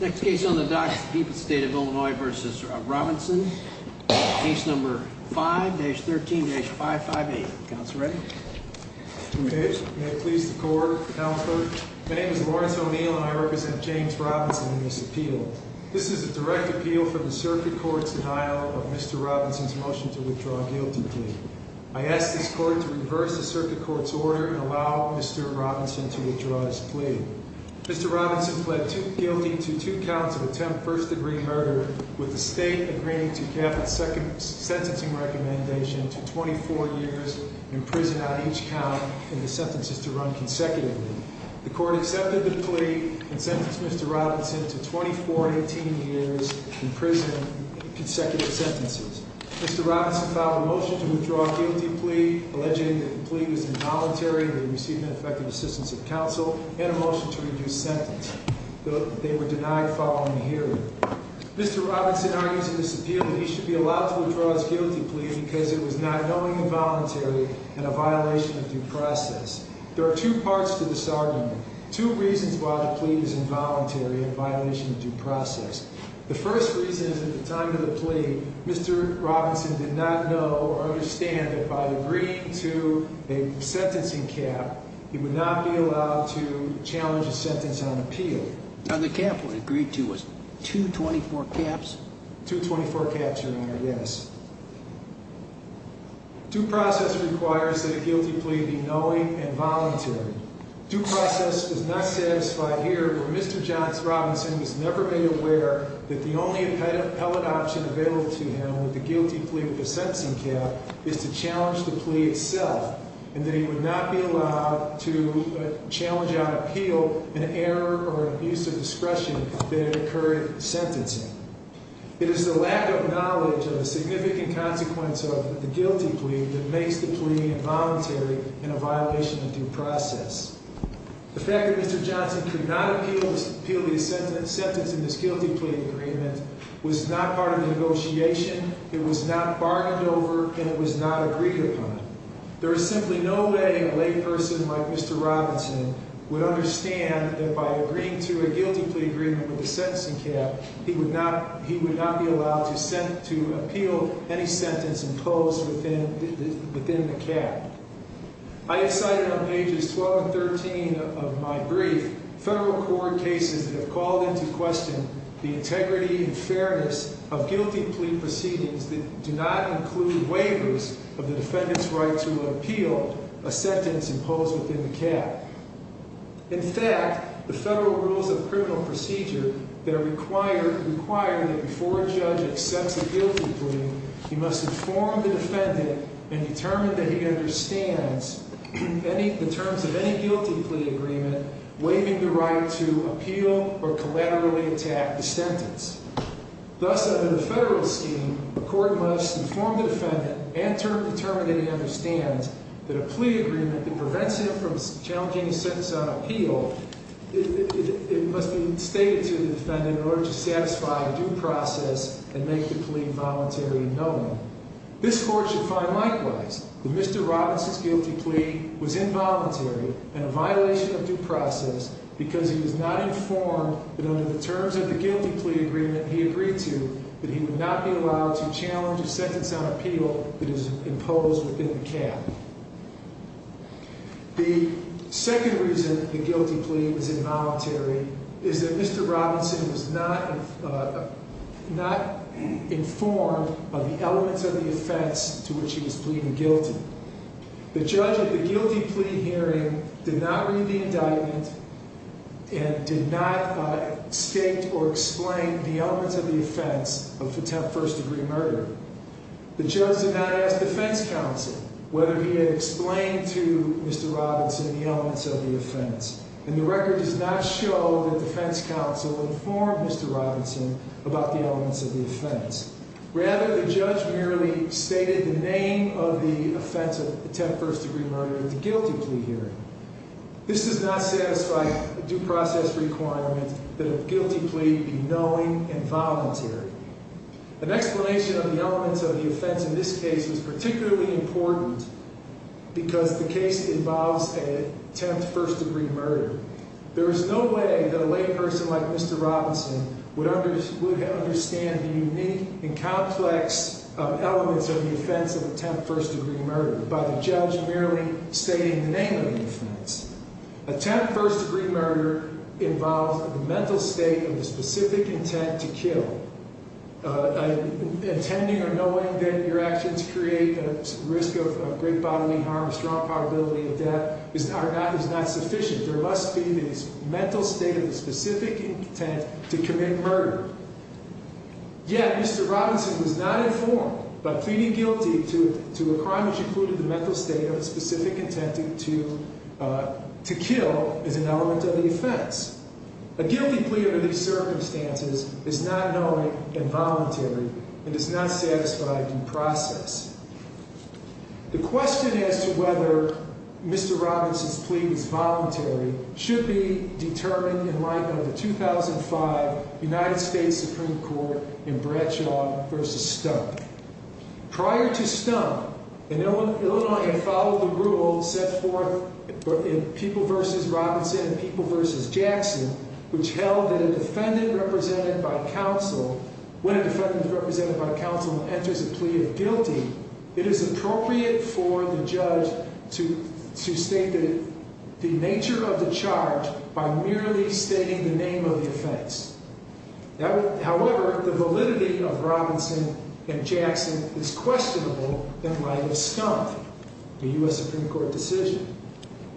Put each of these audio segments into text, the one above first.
Next case on the docks is the people's state of Illinois v. Robinson, case number 5-13-558. Counsel ready? Okay, may it please the court, counselor. My name is Lawrence O'Neill and I represent James Robinson in this appeal. This is a direct appeal for the circuit court's denial of Mr. Robinson's motion to withdraw a guilty plea. I ask this court to reverse the circuit court's order and allow Mr. Robinson to withdraw his plea. Mr. Robinson pled guilty to two counts of attempt first degree murder, with the state agreeing to Kaplan's second sentencing recommendation to 24 years in prison on each count, and the sentences to run consecutively. The court accepted the plea and sentenced Mr. Robinson to 24 and 18 years in prison in consecutive sentences. Mr. Robinson filed a motion to withdraw a guilty plea, alleging that the plea was involuntary and he received ineffective assistance of counsel, and a motion to reduce sentence. They were denied following the hearing. Mr. Robinson argues in this appeal that he should be allowed to withdraw his guilty plea because it was not knowingly involuntary and a violation of due process. There are two parts to this argument, two reasons why the plea is involuntary and a violation of due process. The first reason is that at the time of the plea, Mr. Robinson did not know or understand that by agreeing to a sentencing cap, he would not be allowed to challenge a sentence on appeal. And the cap he agreed to was 224 caps? 224 caps, Your Honor, yes. Due process requires that a guilty plea be knowing and voluntary. Due process does not satisfy here where Mr. Johns Robinson has never been aware that the only appellate option available to him with a guilty plea with a sentencing cap is to challenge the plea itself, and that he would not be allowed to challenge on appeal an error or abuse of discretion that occurred in sentencing. It is the lack of knowledge of a significant consequence of the guilty plea that makes the plea involuntary and a violation of due process. The fact that Mr. Johnson could not appeal the sentence in this guilty plea agreement was not part of the negotiation, it was not bargained over, and it was not agreed upon. There is simply no way a lay person like Mr. Robinson would understand that by agreeing to a guilty plea agreement with a sentencing cap, he would not be allowed to appeal any sentence imposed within the cap. I have cited on pages 12 and 13 of my brief federal court cases that have called into question the integrity and fairness of guilty plea proceedings that do not include waivers of the defendant's right to appeal a sentence imposed within the cap. In fact, the federal rules of criminal procedure that require that before a judge accepts a guilty plea, he must inform the defendant and determine that he understands the terms of any guilty plea agreement waiving the right to appeal or collaterally attack the sentence. Thus, under the federal scheme, the court must inform the defendant and determine that he understands that a plea agreement that prevents him from challenging his sentence on appeal, it must be stated to the defendant in order to satisfy due process and make the plea voluntary and known. This court should find likewise that Mr. Robinson's guilty plea was involuntary and a violation of due process because he was not informed that under the terms of the guilty plea agreement he agreed to, that he would not be allowed to challenge a sentence on appeal that is imposed within the cap. The second reason the guilty plea was involuntary is that Mr. Robinson was not informed of the elements of the offense to which he was pleading guilty. The judge at the guilty plea hearing did not read the indictment and did not state or explain the elements of the offense of first degree murder. The judge did not ask defense counsel whether he had explained to Mr. Robinson the elements of the offense. And the record does not show that defense counsel informed Mr. Robinson about the elements of the offense. Rather, the judge merely stated the name of the offense of attempt first degree murder at the guilty plea hearing. This does not satisfy due process requirements that a guilty plea be knowing and voluntary. An explanation of the elements of the offense in this case was particularly important because the case involves an attempt first degree murder. There is no way that a lay person like Mr. Robinson would understand the unique and complex elements of the offense of attempt first degree murder by the judge merely stating the name of the offense. Attempt first degree murder involves the mental state of the specific intent to kill. Intending or knowing that your actions create a risk of great bodily harm, strong probability of death is not sufficient. There must be this mental state of the specific intent to commit murder. Yet, Mr. Robinson was not informed by pleading guilty to a crime which included the mental state of the specific intent to kill as an element of the offense. A guilty plea under these circumstances is not knowing and voluntary and does not satisfy due process. The question as to whether Mr. Robinson's plea was voluntary should be determined in light of the 2005 United States Supreme Court in Bradshaw v. Stump. Prior to Stump, Illinois had followed the rule set forth in People v. Robinson and People v. Jackson which held that when a defendant is represented by counsel and enters a plea of guilty, it is appropriate for the judge to state the nature of the charge by merely stating the name of the offense. However, the validity of Robinson v. Jackson is questionable and might have stumped the U.S. Supreme Court decision.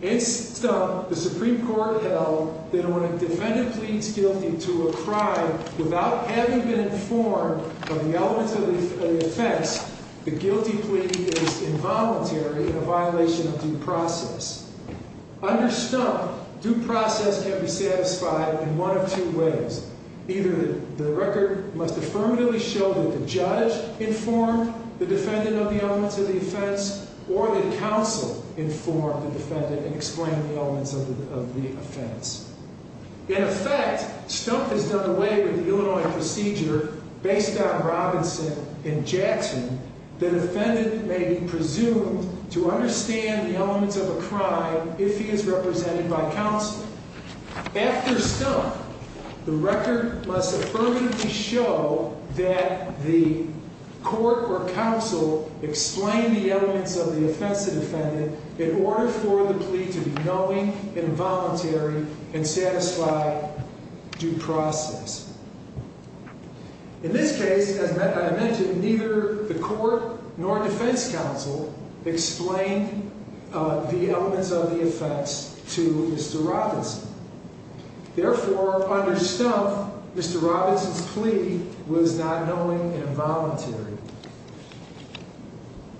In Stump, the Supreme Court held that when a defendant pleads guilty to a crime without having been informed of the elements of the offense, the guilty plea is involuntary and a violation of due process. Under Stump, due process can be satisfied in one of two ways. Either the record must affirmatively show that the judge informed the defendant of the elements of the offense or that counsel informed the defendant and explained the elements of the offense. In effect, Stump has done away with the Illinois procedure based on Robinson v. Jackson that a defendant may be presumed to understand the elements of a crime if he is represented by counsel. After Stump, the record must affirmatively show that the court or counsel explained the elements of the offense to the defendant in order for the plea to be knowing, involuntary, and satisfy due process. In this case, as I mentioned, neither the court nor defense counsel explained the elements of the offense to Mr. Robinson. Therefore, under Stump, Mr. Robinson's plea was not knowing and involuntary.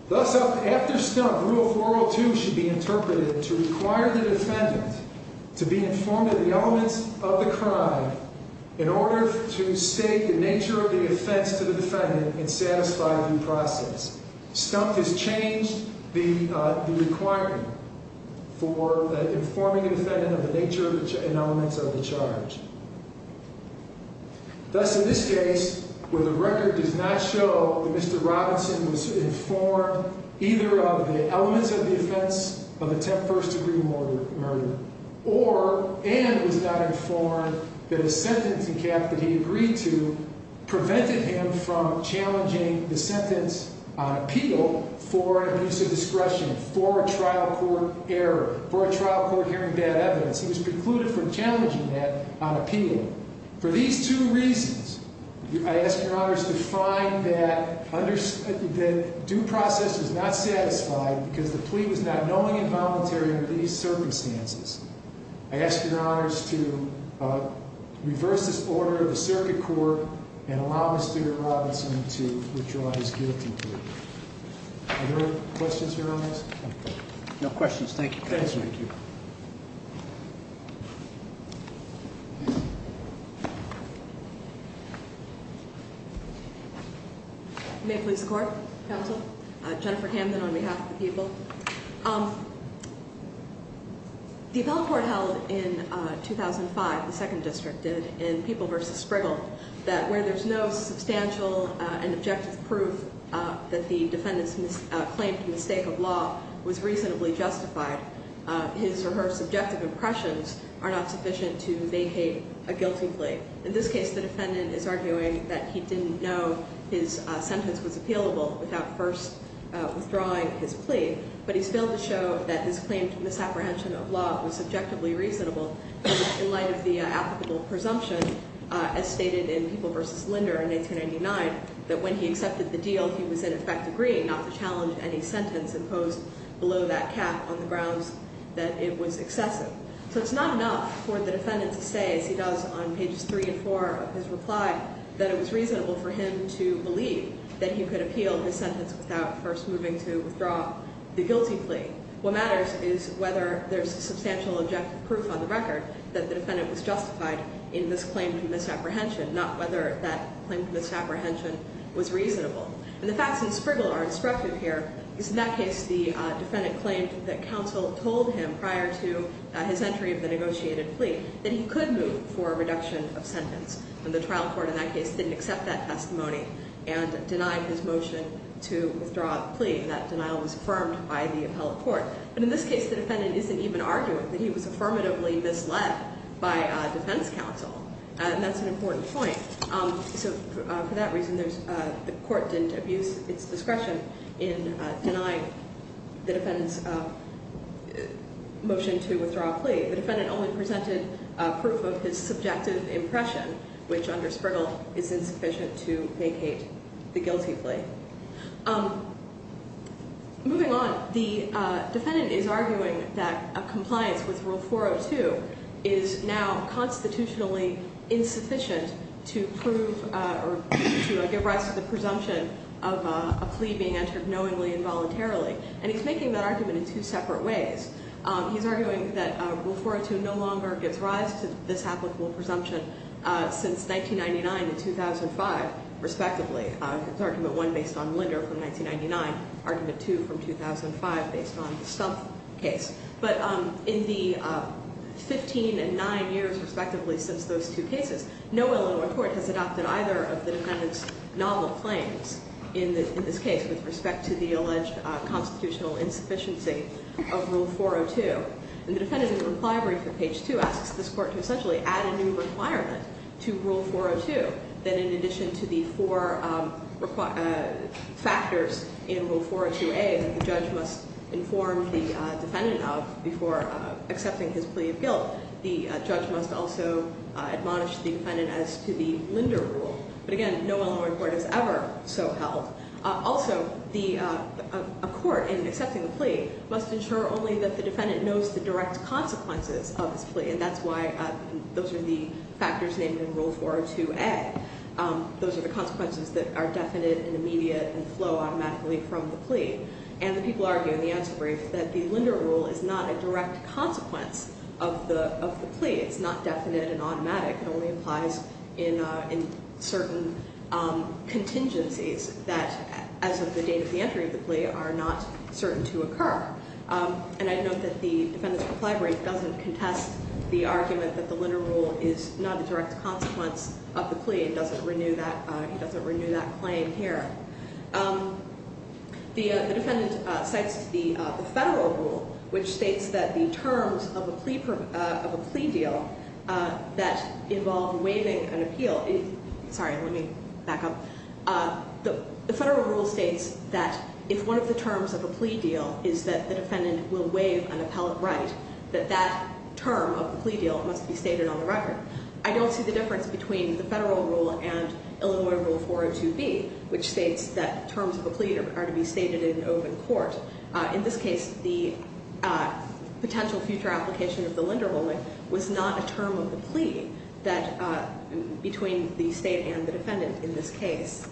Thus, after Stump, Rule 402 should be interpreted to require the defendant to be informed of the elements of the crime in order to state the nature of the offense to the defendant and satisfy due process. Stump has changed the requirement for informing a defendant of the nature and elements of the charge. Thus, in this case, where the record does not show that Mr. Robinson was informed either of the elements of the offense of attempt first degree murder or and was not informed that a sentence in cap that he agreed to prevented him from challenging the sentence on appeal for an abuse of discretion, for a trial court error, for a trial court hearing bad evidence, he was precluded from challenging that on appeal. For these two reasons, I ask your honors to find that due process is not satisfied because the plea was not knowing and involuntary under these circumstances. I ask your honors to reverse this order of the circuit court and allow Mr. Robinson to withdraw his guilty plea. Are there questions, your honors? No questions. Thank you. Thank you. May it please the court, counsel. Jennifer Camden on behalf of the people. The appellate court held in 2005, the second district did, in People v. Sprigal, that where there's no substantial and objective proof that the defendant's claimed mistake of law was reasonably justified, his or her subjective impressions are not sufficient to vacate a guilty plea. In this case, the defendant is arguing that he didn't know his sentence was appealable without first withdrawing his plea, but he's failed to show that his claimed misapprehension of law was subjectively reasonable in light of the applicable presumption, as stated in People v. Linder in 1899, that when he accepted the deal, he was in effect agreeing not to challenge any sentence imposed below that cap on the grounds that it was excessive. So it's not enough for the defendant to say, as he does on pages three and four of his reply, that it was reasonable for him to believe that he could appeal his sentence without first moving to withdraw the guilty plea. What matters is whether there's substantial objective proof on the record that the defendant was justified in this claim to misapprehension, not whether that claim to misapprehension was reasonable. And the facts in Sprigal are instructive here, because in that case the defendant claimed that counsel told him prior to his entry of the negotiated plea that he could move for a reduction of sentence. And the trial court in that case didn't accept that testimony and denied his motion to withdraw the plea. And that denial was affirmed by the appellate court. But in this case the defendant isn't even arguing that he was affirmatively misled by defense counsel. And that's an important point. So for that reason, the court didn't abuse its discretion in denying the defendant's motion to withdraw a plea. The defendant only presented proof of his subjective impression, which under Sprigal is insufficient to vacate the guilty plea. Moving on, the defendant is arguing that a compliance with Rule 402 is now constitutionally insufficient to prove or to give rise to the presumption of a plea being entered knowingly and voluntarily. And he's making that argument in two separate ways. He's arguing that Rule 402 no longer gives rise to this applicable presumption since 1999 and 2005, respectively. It's Argument 1 based on Linder from 1999, Argument 2 from 2005 based on the Stumpf case. But in the 15 and 9 years, respectively, since those two cases, no other court has adopted either of the defendant's novel claims in this case with respect to the alleged constitutional insufficiency of Rule 402. And the defendant is in the requirement for Page 2, asks this court to essentially add a new requirement to Rule 402 that in addition to the four factors in Rule 402A that the judge must inform the defendant of before accepting his plea of guilt, the judge must also admonish the defendant as to the Linder Rule. But again, no other court has ever so held. Also, a court in accepting a plea must ensure only that the defendant knows the direct consequences of his plea, and that's why those are the factors named in Rule 402A. Those are the consequences that are definite and immediate and flow automatically from the plea. And the people argue in the answer brief that the Linder Rule is not a direct consequence of the plea. It's not definite and automatic. It only applies in certain contingencies that, as of the date of the entry of the plea, are not certain to occur. And I note that the defendant's reply brief doesn't contest the argument that the Linder Rule is not a direct consequence of the plea. It doesn't renew that claim here. The defendant cites the Federal Rule, which states that the terms of a plea deal that involve waiving an appeal – sorry, let me back up. The Federal Rule states that if one of the terms of a plea deal is that the defendant will waive an appellate right, that that term of the plea deal must be stated on the record. I don't see the difference between the Federal Rule and Illinois Rule 402B, which states that terms of a plea are to be stated in an open court. In this case, the potential future application of the Linder Rule was not a term of the plea between the state and the defendant in this case.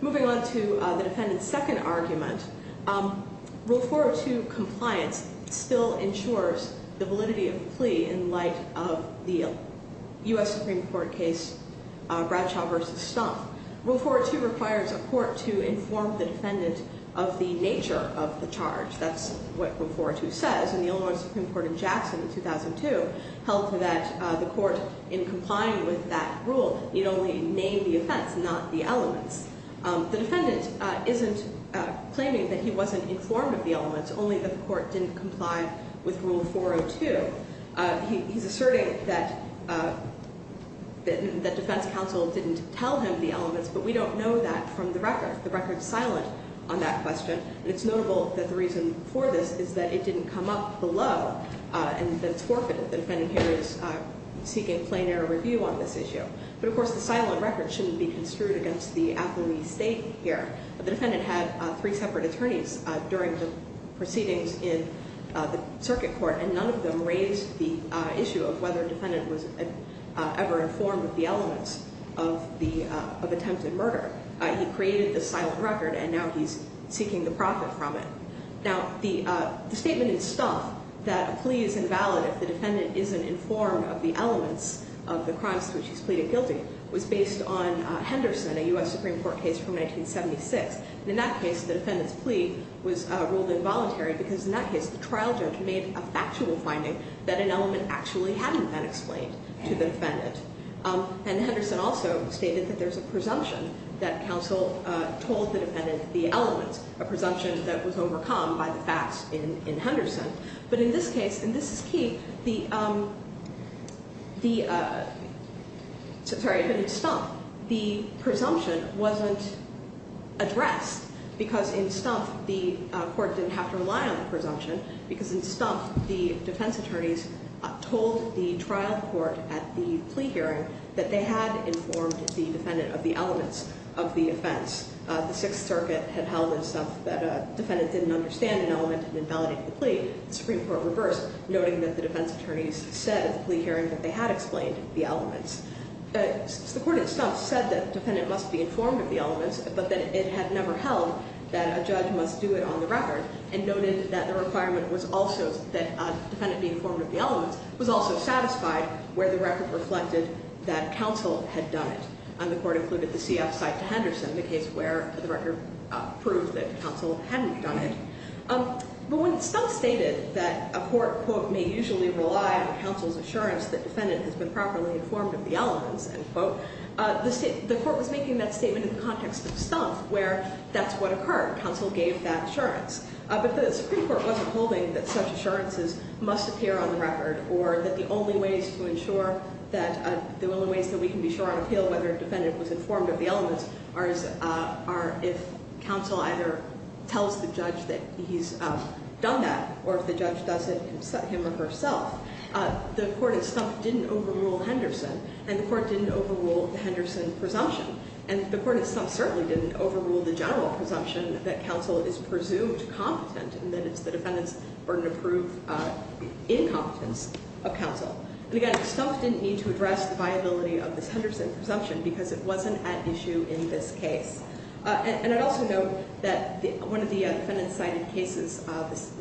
Moving on to the defendant's second argument, Rule 402 compliance still ensures the validity of the plea in light of the U.S. Supreme Court case Bradshaw v. Stumpf. Rule 402 requires a court to inform the defendant of the nature of the charge. That's what Rule 402 says. And the Illinois Supreme Court in Jackson in 2002 held that the court, in complying with that rule, need only name the offense, not the elements. The defendant isn't claiming that he wasn't informed of the elements, only that the court didn't comply with Rule 402. He's asserting that defense counsel didn't tell him the elements, but we don't know that from the record. The record's silent on that question, and it's notable that the reason for this is that it didn't come up below, and that it's forfeited. The defendant here is seeking plain error review on this issue. But, of course, the silent record shouldn't be construed against the affilee's state here. The defendant had three separate attorneys during the proceedings in the circuit court, and none of them raised the issue of whether the defendant was ever informed of the elements of attempted murder. He created the silent record, and now he's seeking the profit from it. Now, the statement in stuff that a plea is invalid if the defendant isn't informed of the elements of the crimes to which he's pleaded guilty was based on Henderson, a U.S. Supreme Court case from 1976. In that case, the defendant's plea was ruled involuntary because, in that case, the trial judge made a factual finding that an element actually hadn't been explained to the defendant. And Henderson also stated that there's a presumption that counsel told the defendant the elements, a presumption that was overcome by the facts in Henderson. But in this case, and this is key, the presumption wasn't addressed because in stuff the court didn't have to rely on the presumption because in stuff the defense attorneys told the trial court at the plea hearing that they had informed the defendant of the elements of the offense. The Sixth Circuit had held in stuff that a defendant didn't understand an element and invalidated the plea. The Supreme Court reversed, noting that the defense attorneys said at the plea hearing that they had explained the elements. The court in stuff said that the defendant must be informed of the elements, but that it had never held that a judge must do it on the record, and noted that the requirement was also that a defendant be informed of the elements was also satisfied where the record reflected that counsel had done it. And the court included the CF side to Henderson, the case where the record proved that counsel hadn't done it. But when stuff stated that a court, quote, may usually rely on counsel's assurance that the defendant has been properly informed of the elements, end quote, the court was making that statement in the context of stuff where that's what occurred. Counsel gave that assurance. But the Supreme Court wasn't holding that such assurances must appear on the record or that the only ways to ensure that the only ways that we can be sure on appeal whether a defendant was informed of the elements are if counsel either tells the judge that he's done that or if the judge does it him or herself. The court in stuff didn't overrule Henderson, and the court didn't overrule the Henderson presumption. And the court in stuff certainly didn't overrule the general presumption that counsel is presumed competent and that it's the defendant's burden to prove incompetence of counsel. And again, stuff didn't need to address the viability of this Henderson presumption because it wasn't at issue in this case. And I'd also note that one of the defendants cited cases, this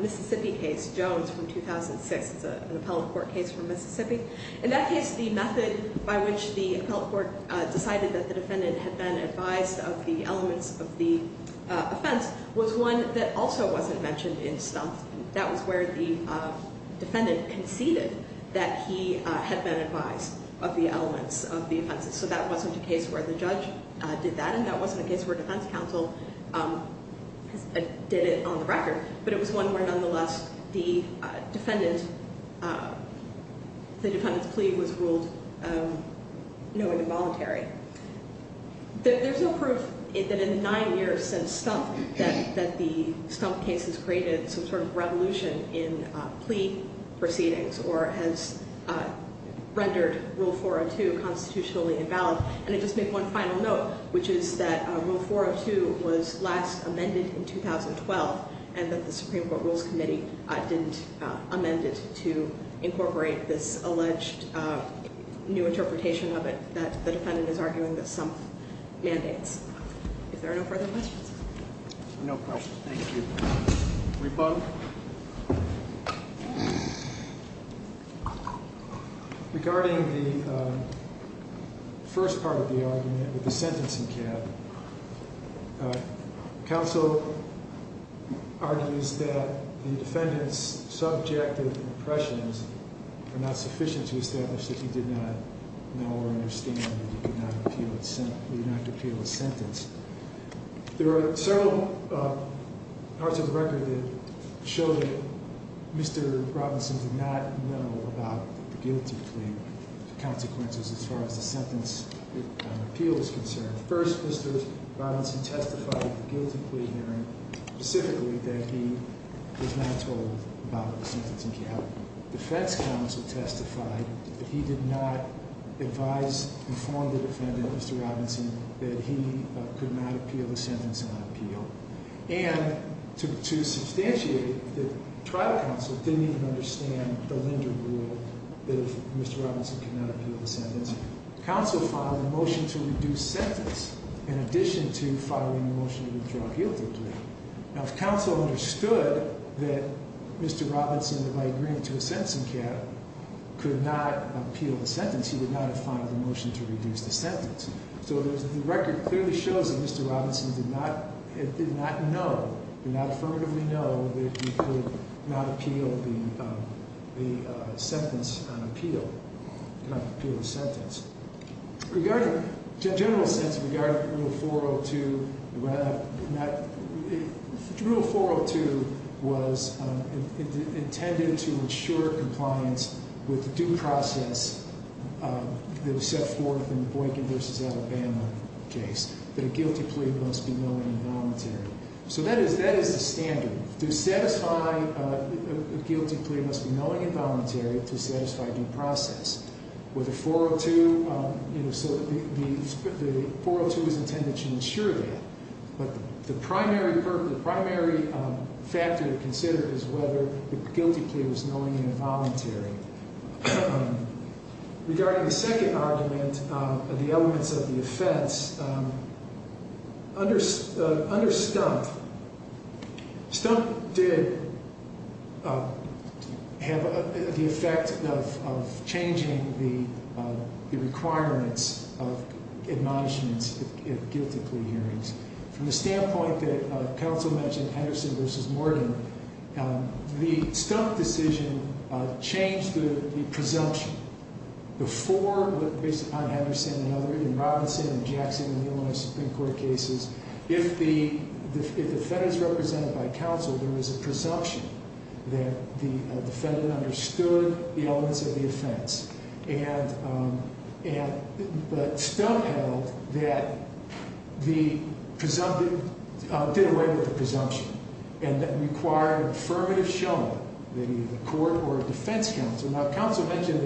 Mississippi case, Jones from 2006. It's an appellate court case from Mississippi. In that case, the method by which the appellate court decided that the defendant had been advised of the elements of the offense was one that also wasn't mentioned in stuff. That was where the defendant conceded that he had been advised of the elements of the offenses. So that wasn't a case where the judge did that, and that wasn't a case where defense counsel did it on the record. But it was one where, nonetheless, the defendant's plea was ruled, you know, involuntary. There's no proof that in the nine years since stuff that the stump case has created some sort of revolution in plea proceedings or has rendered Rule 402 constitutionally invalid. And I'd just make one final note, which is that Rule 402 was last amended in 2012 and that the Supreme Court Rules Committee didn't amend it to incorporate this alleged new interpretation of it that the defendant is arguing that some mandates. If there are no further questions. No questions. Thank you. Rebuttal. Regarding the first part of the argument with the sentencing cap, counsel argues that the defendant's subjective impressions are not sufficient to establish that he did not know or understand that he did not appeal a sentence. There are several parts of the record that show that Mr. Robinson did not know about the guilty plea consequences as far as the sentence appeal is concerned. First, Mr. Robinson testified at the guilty plea hearing specifically that he was not told about the sentencing cap. Defense counsel testified that he did not advise, inform the defendant, Mr. Robinson, that he could not appeal the sentence on appeal. And to substantiate that trial counsel didn't even understand the lingering rule that if Mr. Robinson could not appeal the sentence, counsel filed a motion to reduce sentence in addition to filing a motion to withdraw guilty plea. Now if counsel understood that Mr. Robinson, by agreeing to a sentencing cap, could not appeal the sentence, he would not have filed a motion to reduce the sentence. So the record clearly shows that Mr. Robinson did not know, did not affirmatively know, that he could not appeal the sentence on appeal. Could not appeal the sentence. Regarding, in a general sense, regarding Rule 402, Rule 402 was intended to ensure compliance with due process that was set forth in the Boykin v. Alabama case, that a guilty plea must be knowing and voluntary. So that is the standard. To satisfy, a guilty plea must be knowing and voluntary to satisfy due process. With a 402, you know, so the 402 is intended to ensure that. But the primary factor to consider is whether the guilty plea was knowing and voluntary. Regarding the second argument, the elements of the offense, under Stump, Stump did have the effect of changing the requirements of admonishments in guilty plea hearings. From the standpoint that counsel mentioned, Henderson v. Morgan, the Stump decision changed the presumption. Before, based upon Henderson and others, in Robinson and Jackson and the Illinois Supreme Court cases, if the defendant is represented by counsel, there is a presumption that the defendant understood the elements of the offense. And, but Stump held that the presumption, did away with the presumption. And that required affirmative shown by either the court or defense counsel. Now, counsel mentioned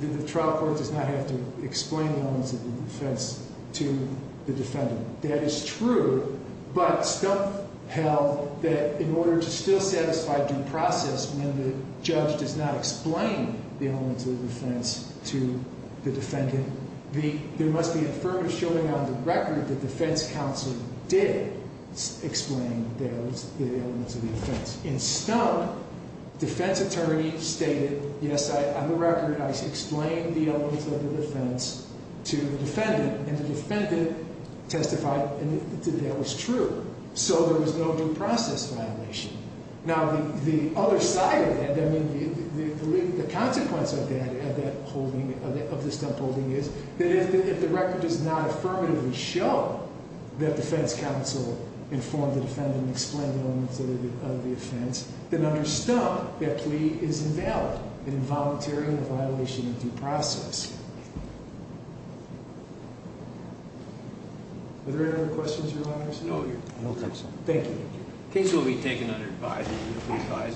that the trial court does not have to explain the elements of the offense to the defendant. That is true, but Stump held that in order to still satisfy due process, when the judge does not explain the elements of the offense to the defendant, there must be affirmative showing on the record that defense counsel did explain the elements of the offense. In Stump, defense attorney stated, yes, on the record, I explained the elements of the offense to the defendant. And the defendant testified that that was true. So there was no due process violation. Now, the other side of that, I mean, the consequence of that, of that holding, of the Stump holding, is that if the record does not affirmatively show that defense counsel informed the defendant and explained the elements of the offense, then under Stump, that plea is invalid and involuntary in the violation of due process. Are there any other questions, Your Honor? No, Your Honor. Thank you. The case will be taken under advisory.